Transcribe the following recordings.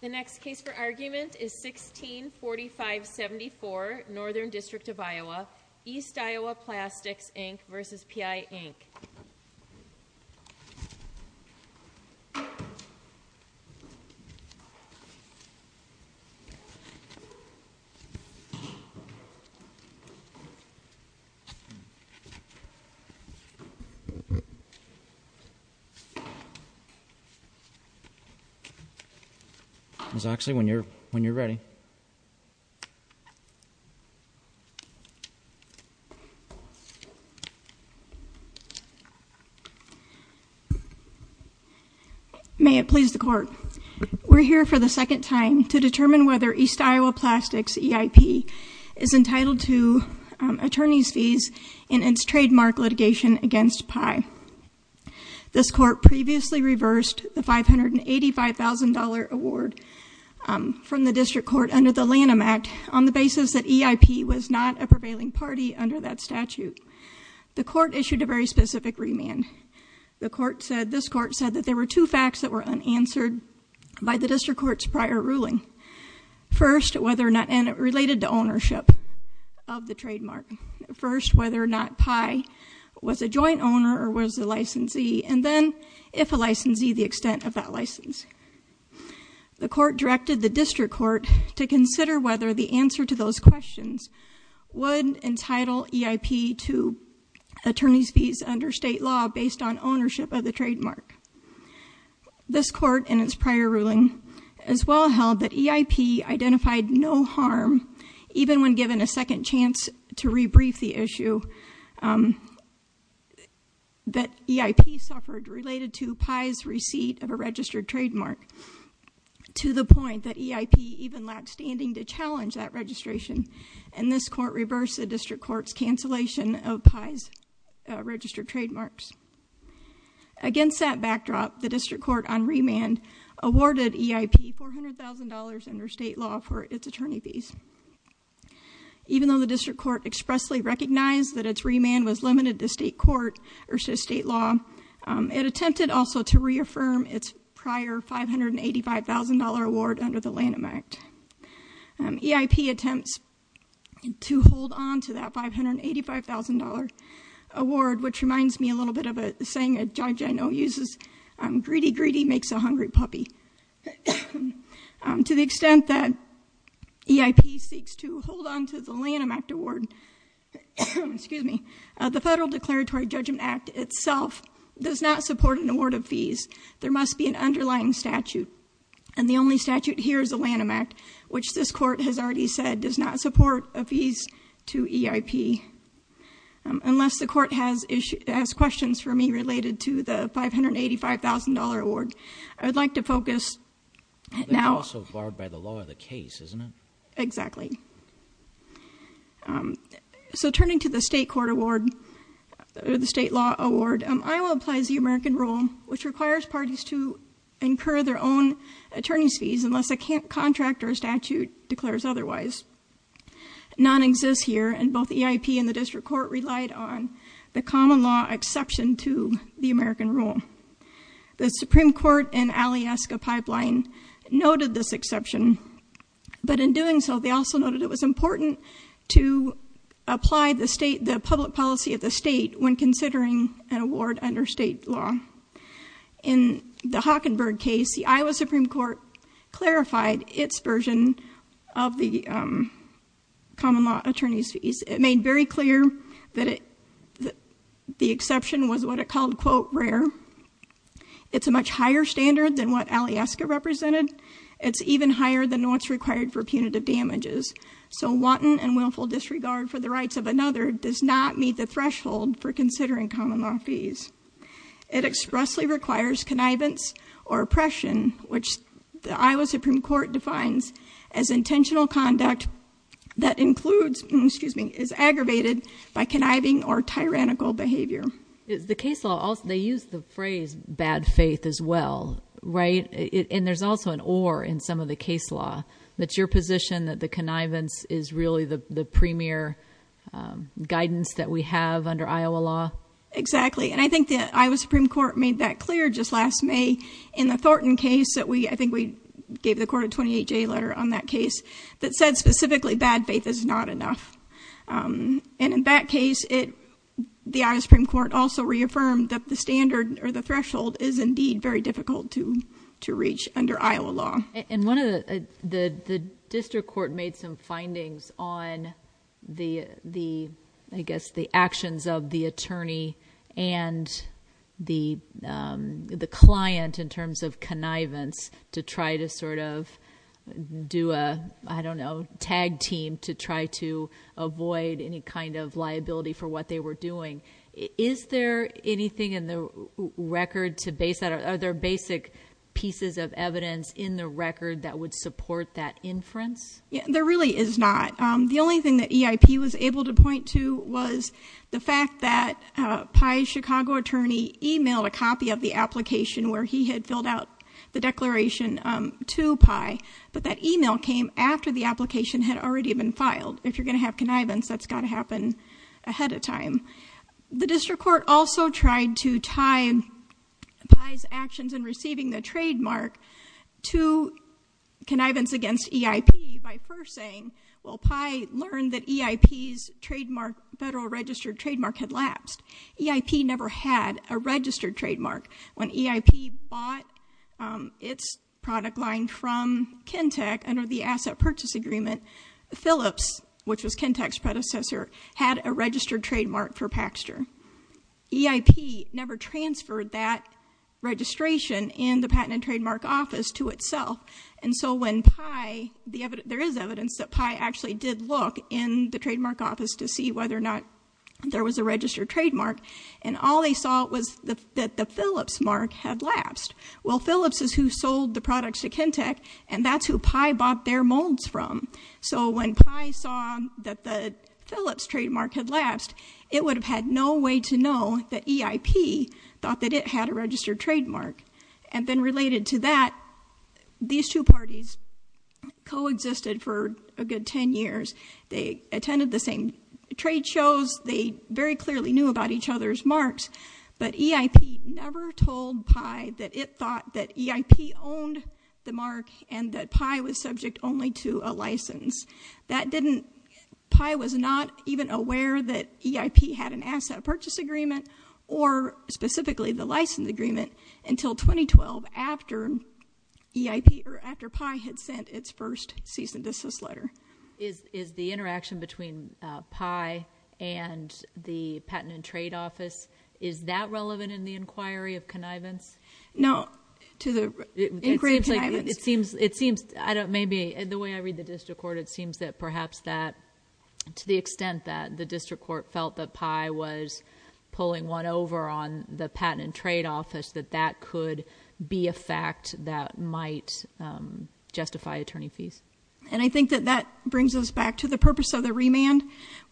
The next case for argument is 164574, Northern District of Iowa, East Iowa Plastics, Inc. v. PI, Inc. Ms. Oxley, when you're ready. May it please the Court. We're here for the second time to determine whether East Iowa Plastics, EIP, is entitled to attorney's fees in its trademark litigation against PI. This Court previously reversed the $585,000 award from the District Court under the Lanham Act on the basis that EIP was not a prevailing party under that statute. The Court issued a very specific remand. This Court said that there were two facts that were unanswered by the District Court's prior ruling. First, whether or not, and it related to ownership of the trademark. First, whether or not PI was a joint owner or was a licensee, and then, if a licensee, the extent of that license. The Court directed the District Court to consider whether the answer to those questions would entitle EIP to attorney's fees under state law based on ownership of the trademark. This Court, in its prior ruling, as well held that EIP identified no harm, even when given a second chance to re-brief the issue, that EIP suffered related to PI's receipt of a registered trademark. To the point that EIP even lacked standing to challenge that registration. And this Court reversed the District Court's cancellation of PI's registered trademarks. Against that backdrop, the District Court, on remand, awarded EIP $400,000 under state law for its attorney fees. Even though the District Court expressly recognized that its remand was limited to state court versus state law, it attempted also to reaffirm its prior $585,000 award under the Lanham Act. EIP attempts to hold on to that $585,000 award, which reminds me a little bit of a saying a judge I know uses, greedy, greedy makes a hungry puppy. To the extent that EIP seeks to hold on to the Lanham Act award, the Federal Declaratory Judgment Act itself does not support an award of fees. There must be an underlying statute. And the only statute here is the Lanham Act, which this court has already said does not support a fees to EIP. Unless the court has questions for me related to the $585,000 award. I would like to focus now- Also barred by the law of the case, isn't it? Exactly. So turning to the state court award, or the state law award, Iowa applies the American Rule, which requires parties to incur their own attorney's fees, unless a contract or a statute declares otherwise. None exists here, and both EIP and the District Court relied on the common law exception to the American Rule. The Supreme Court and Alieska Pipeline noted this exception, but in doing so, they also noted it was important to apply the public policy of the state when considering an award under state law. In the Hockenberg case, the Iowa Supreme Court clarified its version of the common law attorney's fees. It made very clear that the exception was what it called, quote, rare. It's a much higher standard than what Alieska represented. It's even higher than what's required for punitive damages. So wanton and willful disregard for the rights of another does not meet the threshold for considering common law fees. It expressly requires connivance or oppression, which the Iowa Supreme Court defines as intentional conduct that includes, excuse me, is aggravated by conniving or tyrannical behavior. The case law, they use the phrase bad faith as well, right? And there's also an or in some of the case law. That's your position that the connivance is really the premier guidance that we have under Iowa law? Exactly, and I think the Iowa Supreme Court made that clear just last May in the Thornton case that we, I think we gave the court a 28-J letter on that case that said specifically bad faith is not enough. And in that case, the Iowa Supreme Court also reaffirmed that the standard or the threshold is indeed very difficult to reach under Iowa law. And one of the district court made some findings on the, I guess, the actions of the attorney and the client in terms of connivance to try to sort of do a, I don't know, tag team to try to avoid any kind of liability for what they were doing. Is there anything in the record to base that? Are there basic pieces of evidence in the record that would support that inference? There really is not. The only thing that EIP was able to point to was the fact that Pi's Chicago attorney emailed a copy of the application where he had filled out the declaration to Pi. But that email came after the application had already been filed. If you're going to have connivance, that's got to happen ahead of time. The district court also tried to tie Pi's actions in receiving the trademark to connivance against EIP by first saying, well, Pi learned that EIP's trademark, federal registered trademark, had lapsed. EIP never had a registered trademark. When EIP bought its product line from Kintec under the asset purchase agreement, Phillips, which was Kintec's predecessor, had a registered trademark for Paxter. EIP never transferred that registration in the Patent and Trademark Office to itself. And so when Pi, there is evidence that Pi actually did look in the Trademark Office to see whether or not there was a registered trademark, and all they saw was that the Phillips mark had lapsed. Well, Phillips is who sold the products to Kintec, and that's who Pi bought their molds from. So when Pi saw that the Phillips trademark had lapsed, it would have had no way to know that EIP thought that it had a registered trademark. And then related to that, these two parties coexisted for a good 10 years. They attended the same trade shows. They very clearly knew about each other's marks. But EIP never told Pi that it thought that EIP owned the mark and that Pi was subject only to a license. That didn't, Pi was not even aware that EIP had an asset purchase agreement, or specifically the license agreement, until 2012 after EIP, or after Pi had sent its first cease and desist letter. Is the interaction between Pi and the Patent and Trade Office, is that relevant in the inquiry of connivance? No, to the inquiry of connivance. It seems, maybe the way I read the district court, it seems that perhaps that, to the extent that the district court felt that Pi was pulling one over on the Patent and Trade Office, that that could be a fact that might justify attorney fees. And I think that that brings us back to the purpose of the remand,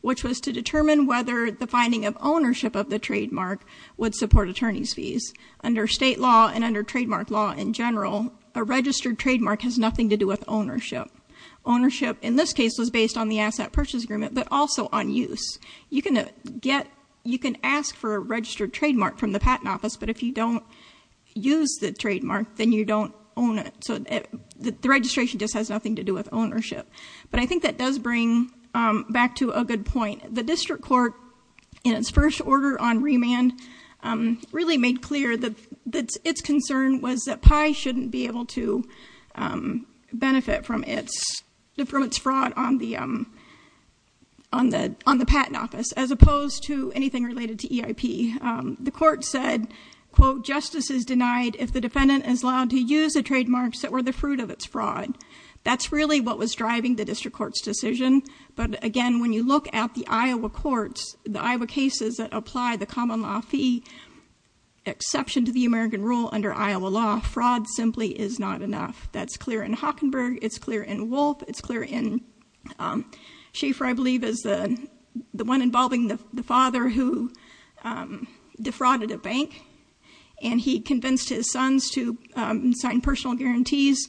which was to determine whether the finding of ownership of the trademark would support attorney's fees. Under state law and under trademark law in general, a registered trademark has nothing to do with ownership. Ownership, in this case, was based on the asset purchase agreement, but also on use. You can ask for a registered trademark from the Patent Office, but if you don't use the trademark, then you don't own it. So the registration just has nothing to do with ownership. But I think that does bring back to a good point. The district court, in its first order on remand, really made clear that its concern was that Pi shouldn't be able to benefit from its fraud on the Patent Office, as opposed to anything related to EIP. The court said, quote, justice is denied if the defendant is allowed to use the trademarks that were the fruit of its fraud. That's really what was driving the district court's decision. But again, when you look at the Iowa courts, the Iowa cases that apply the common law fee exception to the American rule under Iowa law, fraud simply is not enough. That's clear in Hockenberg. It's clear in Wolfe. It's clear in Schaefer, I believe, is the one involving the father who defrauded a bank. And he convinced his sons to sign personal guarantees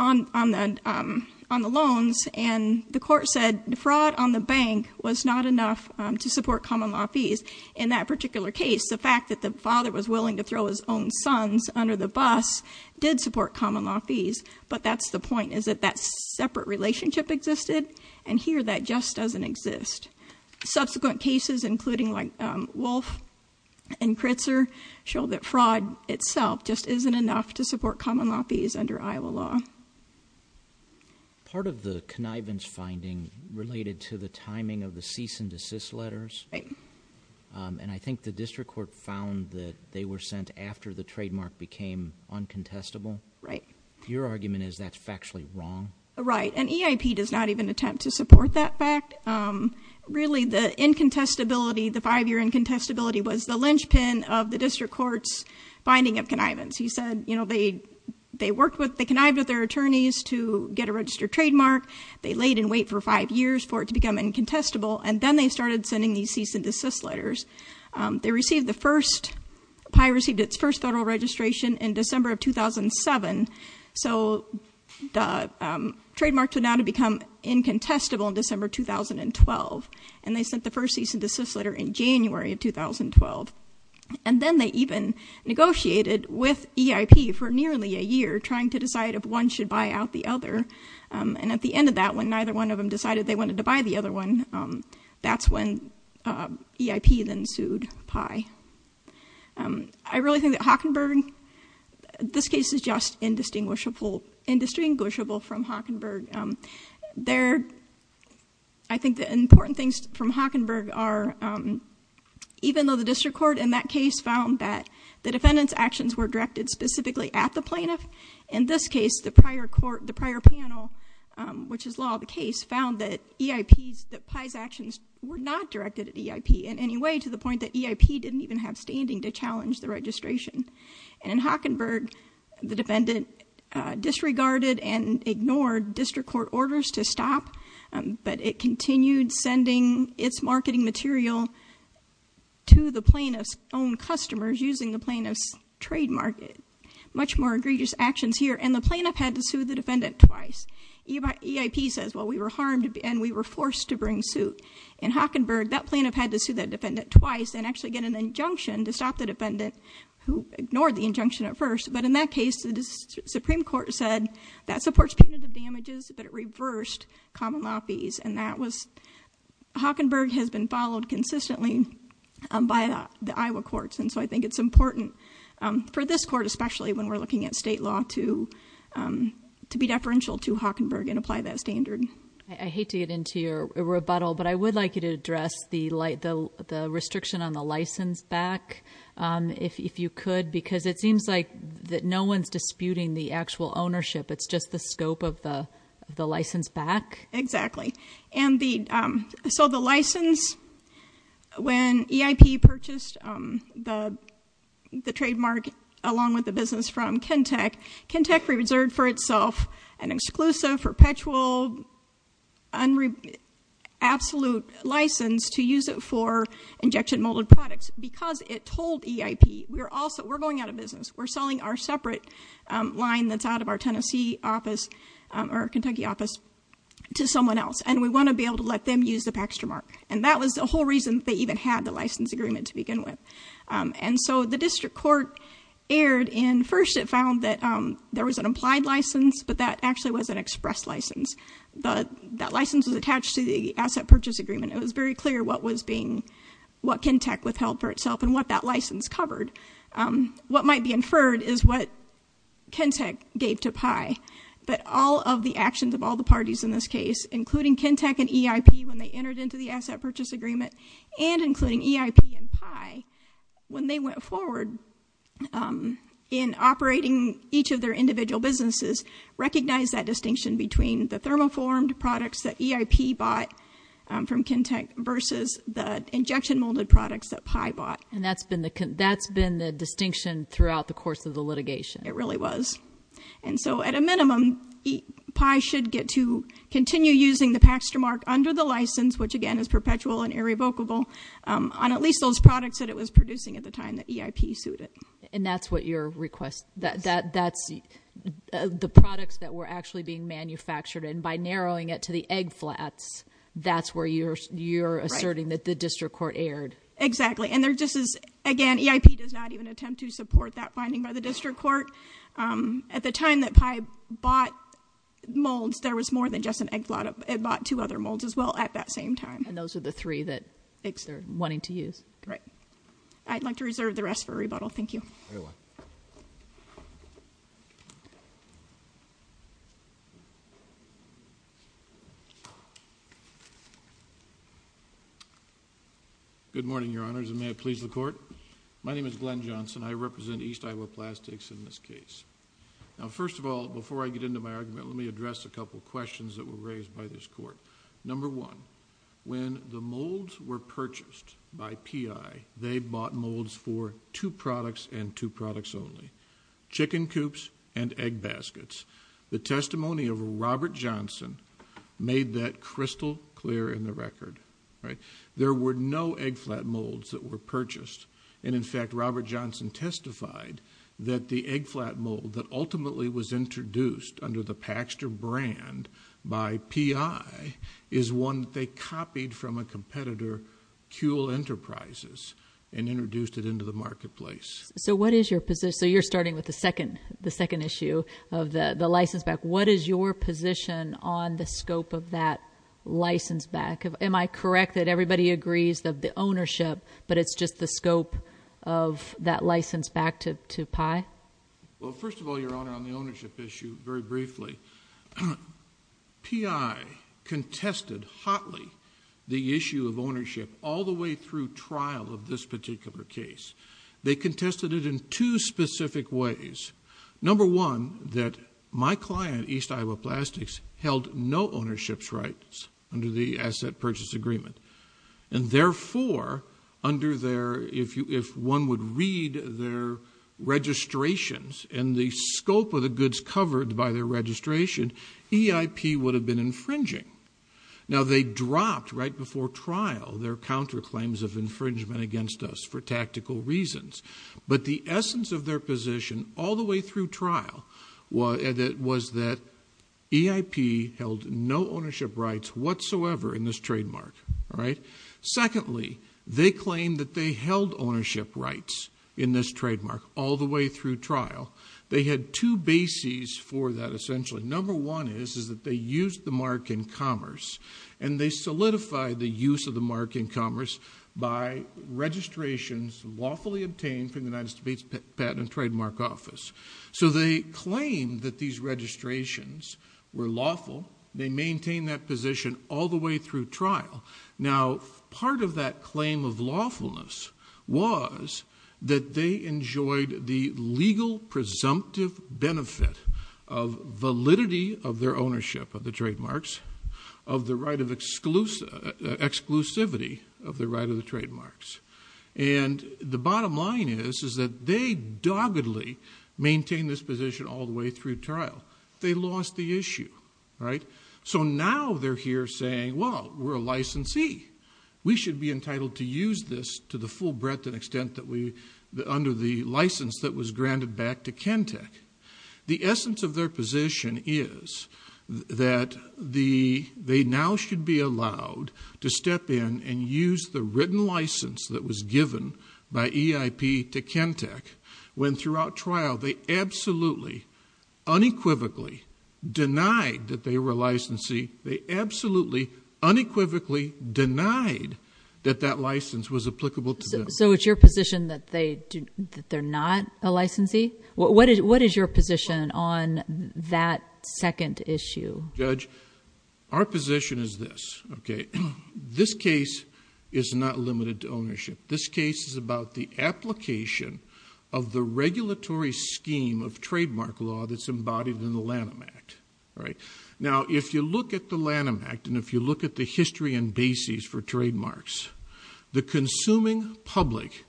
on the loans. And the court said defraud on the bank was not enough to support common law fees. In that particular case, the fact that the father was willing to throw his own sons under the bus did support common law fees. But that's the point, is that that separate relationship existed. And here that just doesn't exist. Subsequent cases, including Wolfe and Kritzer, show that fraud itself just isn't enough to support common law fees under Iowa law. Part of the connivance finding related to the timing of the cease and desist letters. Right. And I think the district court found that they were sent after the trademark became uncontestable. Right. Your argument is that's factually wrong? Right. And EIP does not even attempt to support that fact. Really, the incontestability, the five-year incontestability, was the linchpin of the district court's finding of connivance. He said they connived with their attorneys to get a registered trademark. They laid in wait for five years for it to become incontestable. And then they started sending these cease and desist letters. They received the first, PI received its first federal registration in December of 2007. So the trademark turned out to become incontestable in December 2012. And they sent the first cease and desist letter in January of 2012. And then they even negotiated with EIP for nearly a year, trying to decide if one should buy out the other. And at the end of that, when neither one of them decided they wanted to buy the other one, that's when EIP then sued PI. I really think that Hockenberg, this case is just indistinguishable from Hockenberg. I think the important things from Hockenberg are, even though the district court in that case found that the defendant's actions were directed specifically at the plaintiff, in this case, the prior panel, which is law of the case, found that PI's actions were not directed at EIP in any way, to the point that EIP didn't even have standing to challenge the registration. And in Hockenberg, the defendant disregarded and ignored district court orders to stop, but it continued sending its marketing material to the plaintiff's own customers using the plaintiff's trademark. Much more egregious actions here. And the plaintiff had to sue the defendant twice. EIP says, well, we were harmed and we were forced to bring suit. In Hockenberg, that plaintiff had to sue that defendant twice and actually get an injunction to stop the defendant who ignored the injunction at first. But in that case, the Supreme Court said, that supports punitive damages, but it reversed common lobbies. And that was, Hockenberg has been followed consistently by the Iowa courts. And so I think it's important for this court, especially when we're looking at state law, to be deferential to Hockenberg and apply that standard. I hate to get into your rebuttal, but I would like you to address the restriction on the license back, if you could. Because it seems like no one's disputing the actual ownership. It's just the scope of the license back. Exactly. And so the license, when EIP purchased the trademark along with the business from Kintec, Kintec reserved for itself an exclusive, perpetual, absolute license to use it for injection molded products. Because it told EIP, we're going out of business. We're selling our separate line that's out of our Tennessee office, or Kentucky office, to someone else. And we want to be able to let them use the Paxtra mark. And that was the whole reason they even had the license agreement to begin with. And so the district court erred in, first it found that there was an implied license, but that actually was an express license. That license was attached to the asset purchase agreement. It was very clear what was being, what Kintec withheld for itself, and what that license covered. What might be inferred is what Kintec gave to PAI. But all of the actions of all the parties in this case, including Kintec and EIP, when they entered into the asset purchase agreement, and including EIP and PAI, when they went forward in operating each of their individual businesses, recognized that distinction between the thermoformed products that EIP bought from Kintec versus the injection molded products that PAI bought. And that's been the distinction throughout the course of the litigation. It really was. And so at a minimum, PAI should get to continue using the Paxtra mark under the license, which again is perpetual and irrevocable, on at least those products that it was producing at the time that EIP sued it. And that's what your request, that's the products that were actually being manufactured, and by narrowing it to the egg flats, that's where you're asserting that the district court erred. Exactly. And there just is, again, EIP does not even attempt to support that finding by the district court. At the time that PAI bought molds, there was more than just an egg flat. It bought two other molds as well at that same time. And those are the three that eggs they're wanting to use. I'd like to reserve the rest for rebuttal. Thank you. Very well. Thank you. Good morning, Your Honors, and may it please the Court. My name is Glenn Johnson. I represent East Iowa Plastics in this case. Now, first of all, before I get into my argument, let me address a couple questions that were raised by this Court. Number one, when the molds were purchased by PAI, they bought molds for two products and two products only, chicken coops and egg baskets. The testimony of Robert Johnson made that crystal clear in the record. There were no egg flat molds that were purchased. And, in fact, Robert Johnson testified that the egg flat mold that ultimately was introduced under the Paxter brand by PAI is one they copied from a competitor, Kewl Enterprises, and introduced it into the marketplace. So what is your position? So you're starting with the second issue of the license back. What is your position on the scope of that license back? Am I correct that everybody agrees of the ownership, but it's just the scope of that license back to PAI? Well, first of all, Your Honor, on the ownership issue, very briefly, PI contested hotly the issue of ownership all the way through trial of this particular case. They contested it in two specific ways. Number one, that my client, East Iowa Plastics, held no ownership rights under the asset purchase agreement. And, therefore, under their, if one would read their registrations and the scope of the goods covered by their registration, EIP would have been infringing. Now, they dropped right before trial their counterclaims of infringement against us for tactical reasons. But the essence of their position all the way through trial was that EIP held no ownership rights whatsoever in this trademark. All right? Secondly, they claimed that they held ownership rights in this trademark all the way through trial. What number one is, is that they used the mark in commerce, and they solidified the use of the mark in commerce by registrations lawfully obtained from the United States Patent and Trademark Office. So they claimed that these registrations were lawful. They maintained that position all the way through trial. Now, part of that claim of lawfulness was that they enjoyed the legal presumptive benefit of validity of their ownership of the trademarks, of the right of exclusivity of the right of the trademarks. And the bottom line is, is that they doggedly maintained this position all the way through trial. They lost the issue. All right? So now they're here saying, well, we're a licensee. We should be entitled to use this to the full breadth and extent that we, under the license that was granted back to Kentec. The essence of their position is that they now should be allowed to step in and use the written license that was given by EIP to Kentec, when throughout trial they absolutely, unequivocally denied that they were a licensee. They absolutely, unequivocally denied that that license was applicable to them. So it's your position that they're not a licensee? What is your position on that second issue? Judge, our position is this. This case is not limited to ownership. This case is about the application of the regulatory scheme of trademark law that's embodied in the Lanham Act. All right? Now, if you look at the Lanham Act, and if you look at the history and basis for trademarks, the consuming public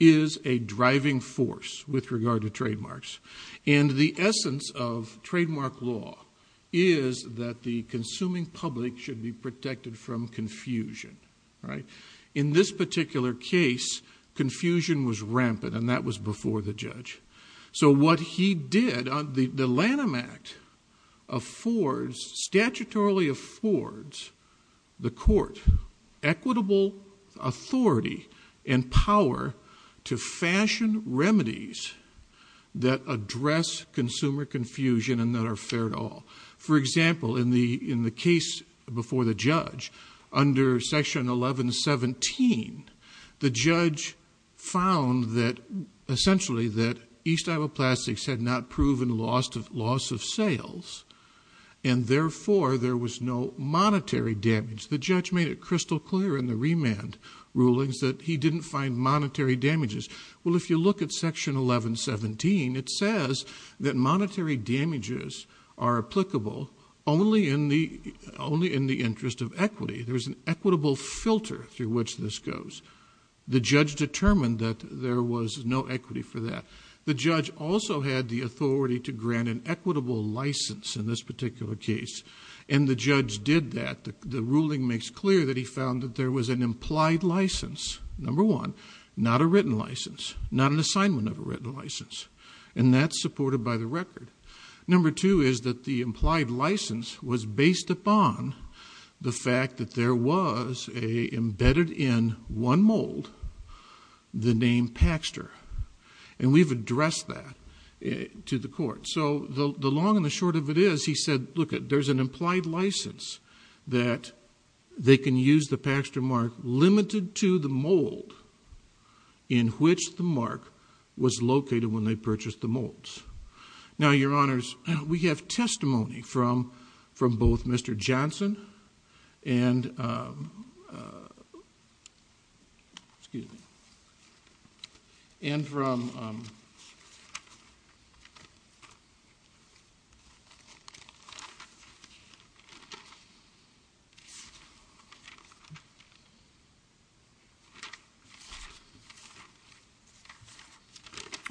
is a driving force with regard to trademarks. And the essence of trademark law is that the consuming public should be protected from confusion. All right? In this particular case, confusion was rampant, and that was before the judge. So what he did, the Lanham Act affords, statutorily affords, the court equitable authority and power to fashion remedies that address consumer confusion and that are fair to all. For example, in the case before the judge, under Section 1117, the judge found that, essentially, that East Iowa Plastics had not proven loss of sales, and therefore there was no monetary damage. The judge made it crystal clear in the remand rulings that he didn't find monetary damages. Well, if you look at Section 1117, it says that monetary damages are applicable only in the interest of equity. There's an equitable filter through which this goes. The judge determined that there was no equity for that. The judge also had the authority to grant an equitable license in this particular case, and the judge did that. The ruling makes clear that he found that there was an implied license, number one, not a written license, not an assignment of a written license, and that's supported by the record. Number two is that the implied license was based upon the fact that there was embedded in one mold the name Paxter, and we've addressed that to the court. So the long and the short of it is he said, look, there's an implied license that they can use the Paxter mark limited to the mold in which the mark was located when they purchased the molds. Now, Your Honors, we have testimony from both Mr. Johnson and from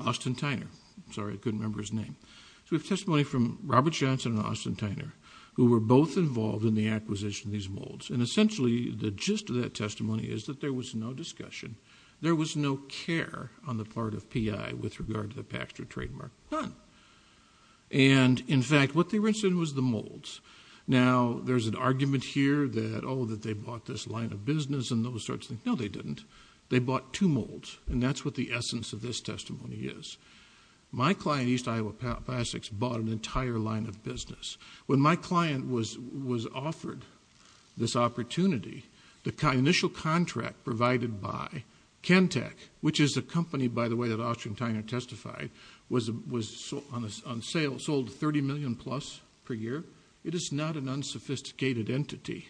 Austin Tyner. I'm sorry, I couldn't remember his name. So we have testimony from Robert Johnson and Austin Tyner who were both involved in the acquisition of these molds, and essentially the gist of that testimony is that there was no discussion, there was no care on the part of PI with regard to the Paxter trademark, none. And, in fact, what they were interested in was the molds. Now, there's an argument here that, oh, that they bought this line of business and those sorts of things. No, they didn't. They bought two molds, and that's what the essence of this testimony is. My client, East Iowa Plastics, bought an entire line of business. When my client was offered this opportunity, the initial contract provided by Kentec, which is a company, by the way, that Austin Tyner testified, was on sale, sold $30 million plus per year. It is not an unsophisticated entity.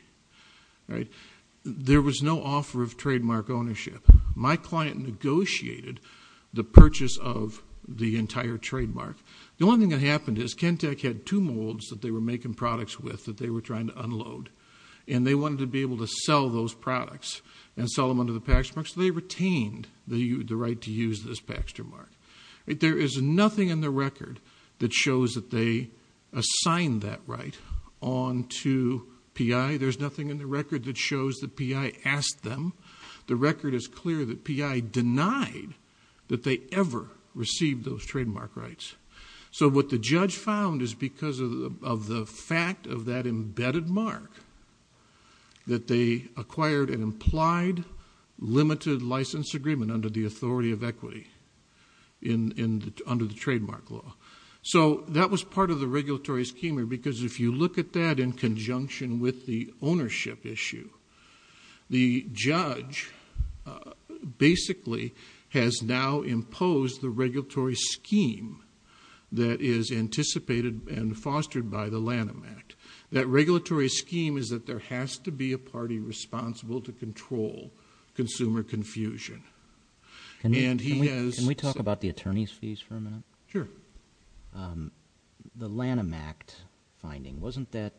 There was no offer of trademark ownership. My client negotiated the purchase of the entire trademark. The only thing that happened is Kentec had two molds that they were making products with that they were trying to unload, and they wanted to be able to sell those products and sell them under the Paxter mark, so they retained the right to use this Paxter mark. There is nothing in the record that shows that they assigned that right on to P.I. There's nothing in the record that shows that P.I. asked them. The record is clear that P.I. denied that they ever received those trademark rights. So what the judge found is because of the fact of that embedded mark, that they acquired an implied limited license agreement under the authority of equity under the trademark law. So that was part of the regulatory schema because if you look at that in conjunction with the ownership issue, the judge basically has now imposed the regulatory scheme that is anticipated and fostered by the Lanham Act. That regulatory scheme is that there has to be a party responsible to control consumer confusion. Can we talk about the attorney's fees for a minute? Sure. The Lanham Act finding, wasn't that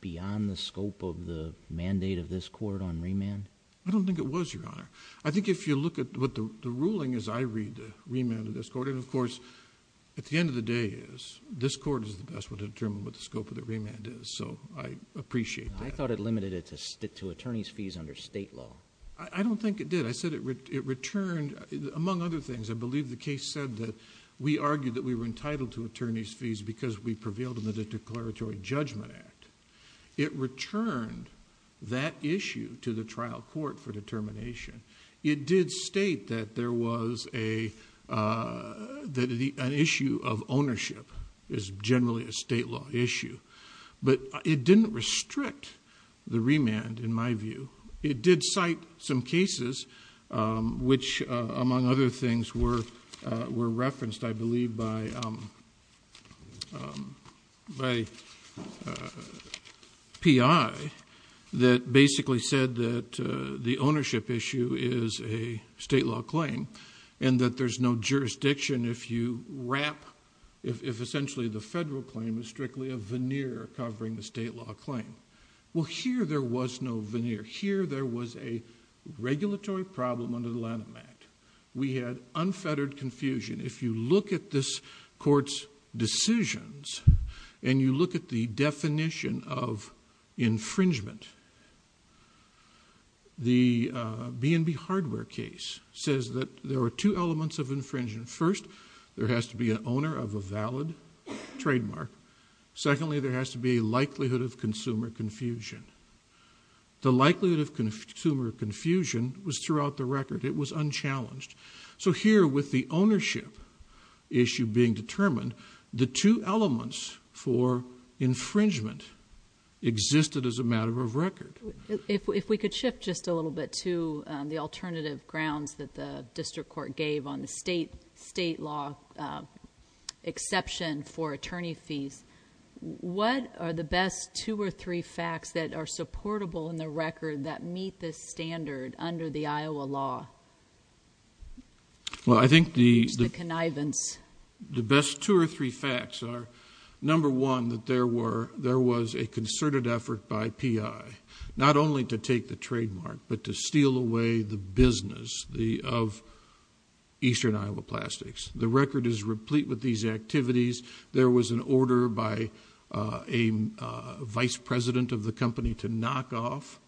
beyond the scope of the mandate of this court on remand? I don't think it was, Your Honor. I think if you look at what the ruling is, I read the remand of this court, and of course at the end of the day is this court is the best one to determine what the scope of the remand is. So I appreciate that. I thought it limited it to attorney's fees under state law. I don't think it did. I said it returned, among other things, I believe the case said that we argued that we were entitled to attorney's fees because we prevailed in the declaratory judgment act. It returned that issue to the trial court for determination. It did state that there was an issue of ownership is generally a state law issue. But it didn't restrict the remand, in my view. It did cite some cases which, among other things, were referenced, I believe, by a P.I. that basically said that the ownership issue is a state law claim and that there's no jurisdiction if you wrap, if essentially the federal claim is strictly a veneer covering the state law claim. Well, here there was no veneer. Here there was a regulatory problem under the Lanham Act. We had unfettered confusion. If you look at this court's decisions and you look at the definition of infringement, the B&B hardware case says that there are two elements of infringement. First, there has to be an owner of a valid trademark. Secondly, there has to be a likelihood of consumer confusion. The likelihood of consumer confusion was throughout the record. It was unchallenged. So here with the ownership issue being determined, the two elements for infringement existed as a matter of record. If we could shift just a little bit to the alternative grounds that the district court gave on the state law exception for attorney fees, what are the best two or three facts that are supportable in the record that meet this standard under the Iowa law? Well, I think the best two or three facts are, number one, that there was a concerted effort by P.I. not only to take the trademark but to steal away the business of Eastern Iowa Plastics. The record is replete with these activities. There was an order by a vice president of the company to knock off,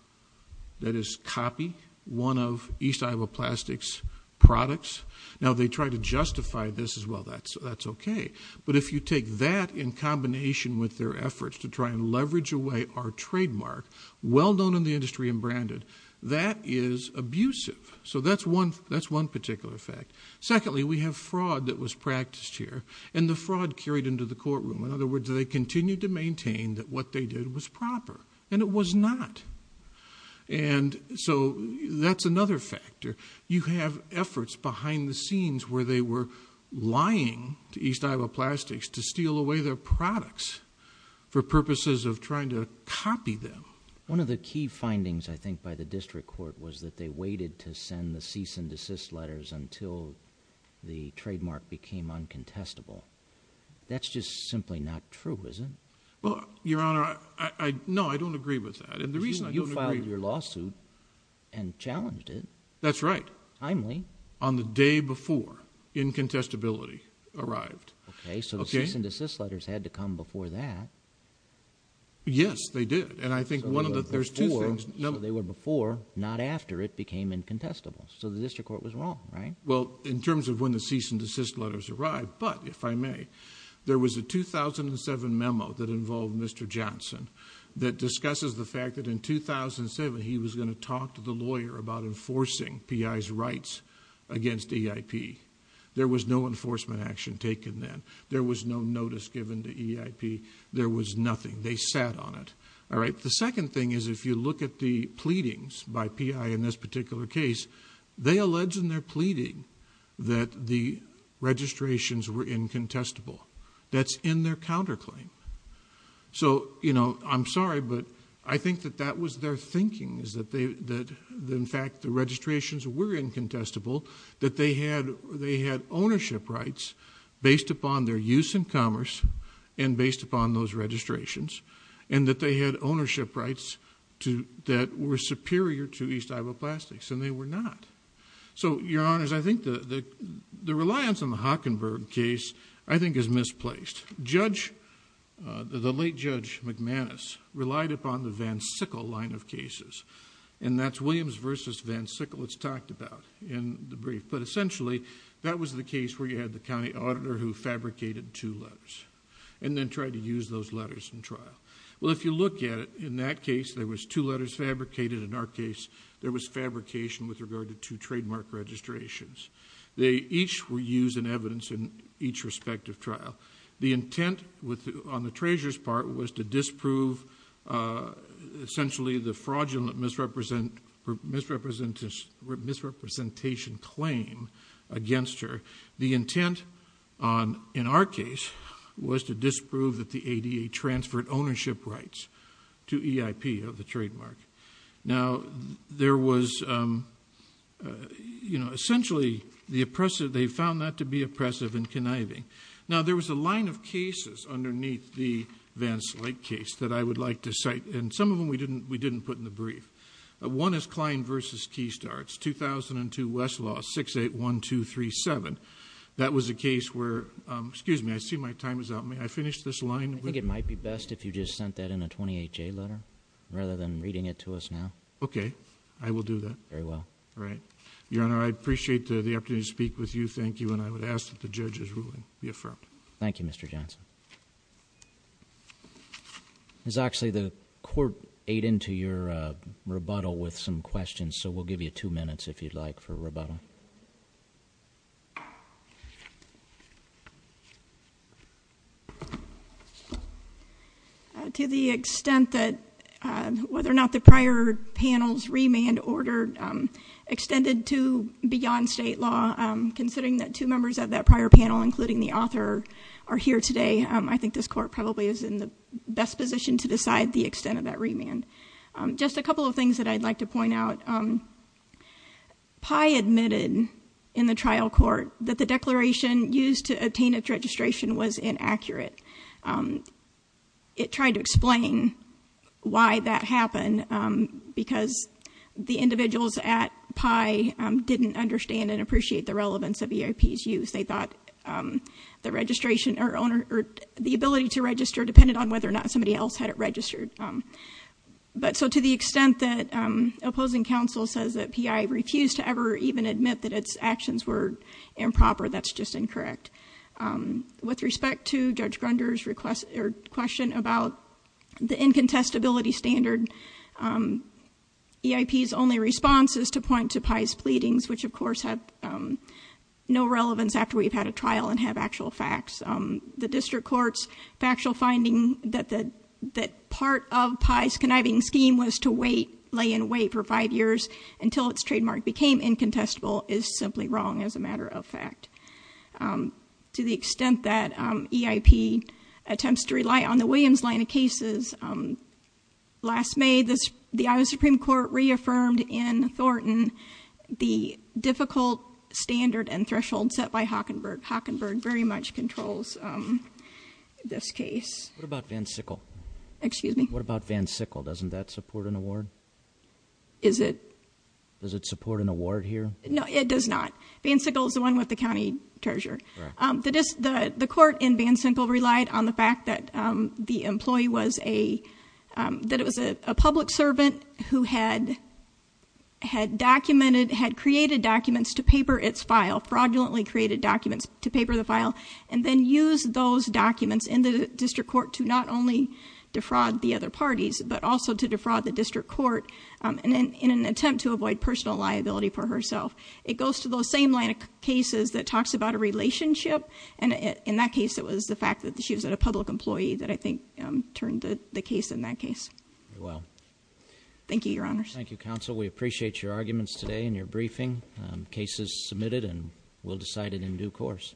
that is, copy one of East Iowa Plastics' products. Now, they tried to justify this as, well, that's okay. But if you take that in combination with their efforts to try and leverage away our trademark, well known in the industry and branded, that is abusive. So that's one particular fact. Secondly, we have fraud that was practiced here, and the fraud carried into the courtroom. In other words, they continued to maintain that what they did was proper, and it was not. And so that's another factor. You have efforts behind the scenes where they were lying to East Iowa Plastics to steal away their products for purposes of trying to copy them. One of the key findings, I think, by the district court was that they waited to send the cease and desist letters until the trademark became uncontestable. That's just simply not true, is it? Well, Your Honor, no, I don't agree with that. And the reason I don't agree... You filed your lawsuit and challenged it. That's right. Timely. On the day before incontestability arrived. Okay, so the cease and desist letters had to come before that. Yes, they did. And I think one of the... So they were before, not after it became incontestable. So the district court was wrong, right? Well, in terms of when the cease and desist letters arrived, but if I may, there was a 2007 memo that involved Mr. Johnson that discusses the fact that in 2007 he was going to talk to the lawyer about enforcing PI's rights against AIP. There was no enforcement action taken then. There was no notice given to EIP. There was nothing. They sat on it. All right? The second thing is if you look at the pleadings by PI in this particular case, they allege in their pleading that the registrations were incontestable. That's in their counterclaim. So, you know, I'm sorry, but I think that that was their thinking, is that in fact the registrations were incontestable, that they had ownership rights based upon their use in commerce and based upon those registrations, and that they had ownership rights that were superior to East Iowa Plastics, and they were not. So, Your Honors, I think the reliance on the Hockenberg case, I think, is misplaced. Judge... the late Judge McManus relied upon the Van Sickle line of cases, and that's Williams versus Van Sickle it's talked about. But, essentially, that was the case where you had the county auditor who fabricated two letters and then tried to use those letters in trial. Well, if you look at it, in that case there was two letters fabricated. In our case, there was fabrication with regard to two trademark registrations. They each were used in evidence in each respective trial. The intent on the treasurer's part was to disprove, essentially, the fraudulent misrepresentation claim against her. The intent, in our case, was to disprove that the ADA transferred ownership rights to EIP of the trademark. Now, there was... you know, essentially, the oppressive... they found that to be oppressive and conniving. Now, there was a line of cases underneath the Van Slate case that I would like to cite, and some of them we didn't put in the brief. One is Klein versus Keystarts, 2002 Westlaw 681237. That was a case where... excuse me, I see my time is up. May I finish this line? I think it might be best if you just sent that in a 28-J letter, rather than reading it to us now. Okay. I will do that. Very well. All right. Your Honor, I appreciate the opportunity to speak with you. Thank you, and I would ask that the judge's ruling be affirmed. Thank you, Mr. Johnson. Thank you. Ms. Oxley, the Court ate into your rebuttal with some questions, so we'll give you two minutes, if you'd like, for rebuttal. To the extent that whether or not the prior panel's remand order extended to beyond state law, considering that two members of that prior panel, including the author, are here today, I think this Court probably is in the best position to decide the extent of that remand. Just a couple of things that I'd like to point out. PI admitted in the trial court that the declaration used to obtain its registration was inaccurate. It tried to explain why that happened, because the individuals at PI didn't understand and appreciate the relevance of EIP's use. They thought the ability to register depended on whether or not somebody else had it registered. To the extent that opposing counsel says that PI refused to ever even admit that its actions were improper, that's just incorrect. With respect to Judge Grunder's question about the incontestability standard, EIP's only response is to point to PI's pleadings, which of course have no relevance after we've had a trial and have actual facts. The district court's factual finding that part of PI's conniving scheme was to lay in wait for five years until its trademark became incontestable is simply wrong as a matter of fact. To the extent that EIP attempts to rely on the Williams line of cases, last May the Iowa Supreme Court reaffirmed in Thornton the difficult standard and threshold set by Hockenberg. Hockenberg very much controls this case. What about Van Sickle? Excuse me? What about Van Sickle? Doesn't that support an award? Is it? Does it support an award here? No, it does not. Van Sickle is the one with the county treasurer. The court in Van Sickle relied on the fact that the employee was a public servant who had created documents to paper its file, fraudulently created documents to paper the file, and then used those documents in the district court to not only defraud the other parties, but also to defraud the district court in an attempt to avoid personal liability for herself. It goes to those same line of cases that talks about a relationship, and in that case it was the fact that she was a public employee that I think turned the case in that case. Very well. Thank you, Your Honors. We appreciate your arguments today and your briefing. The case is submitted and we'll decide it in due course.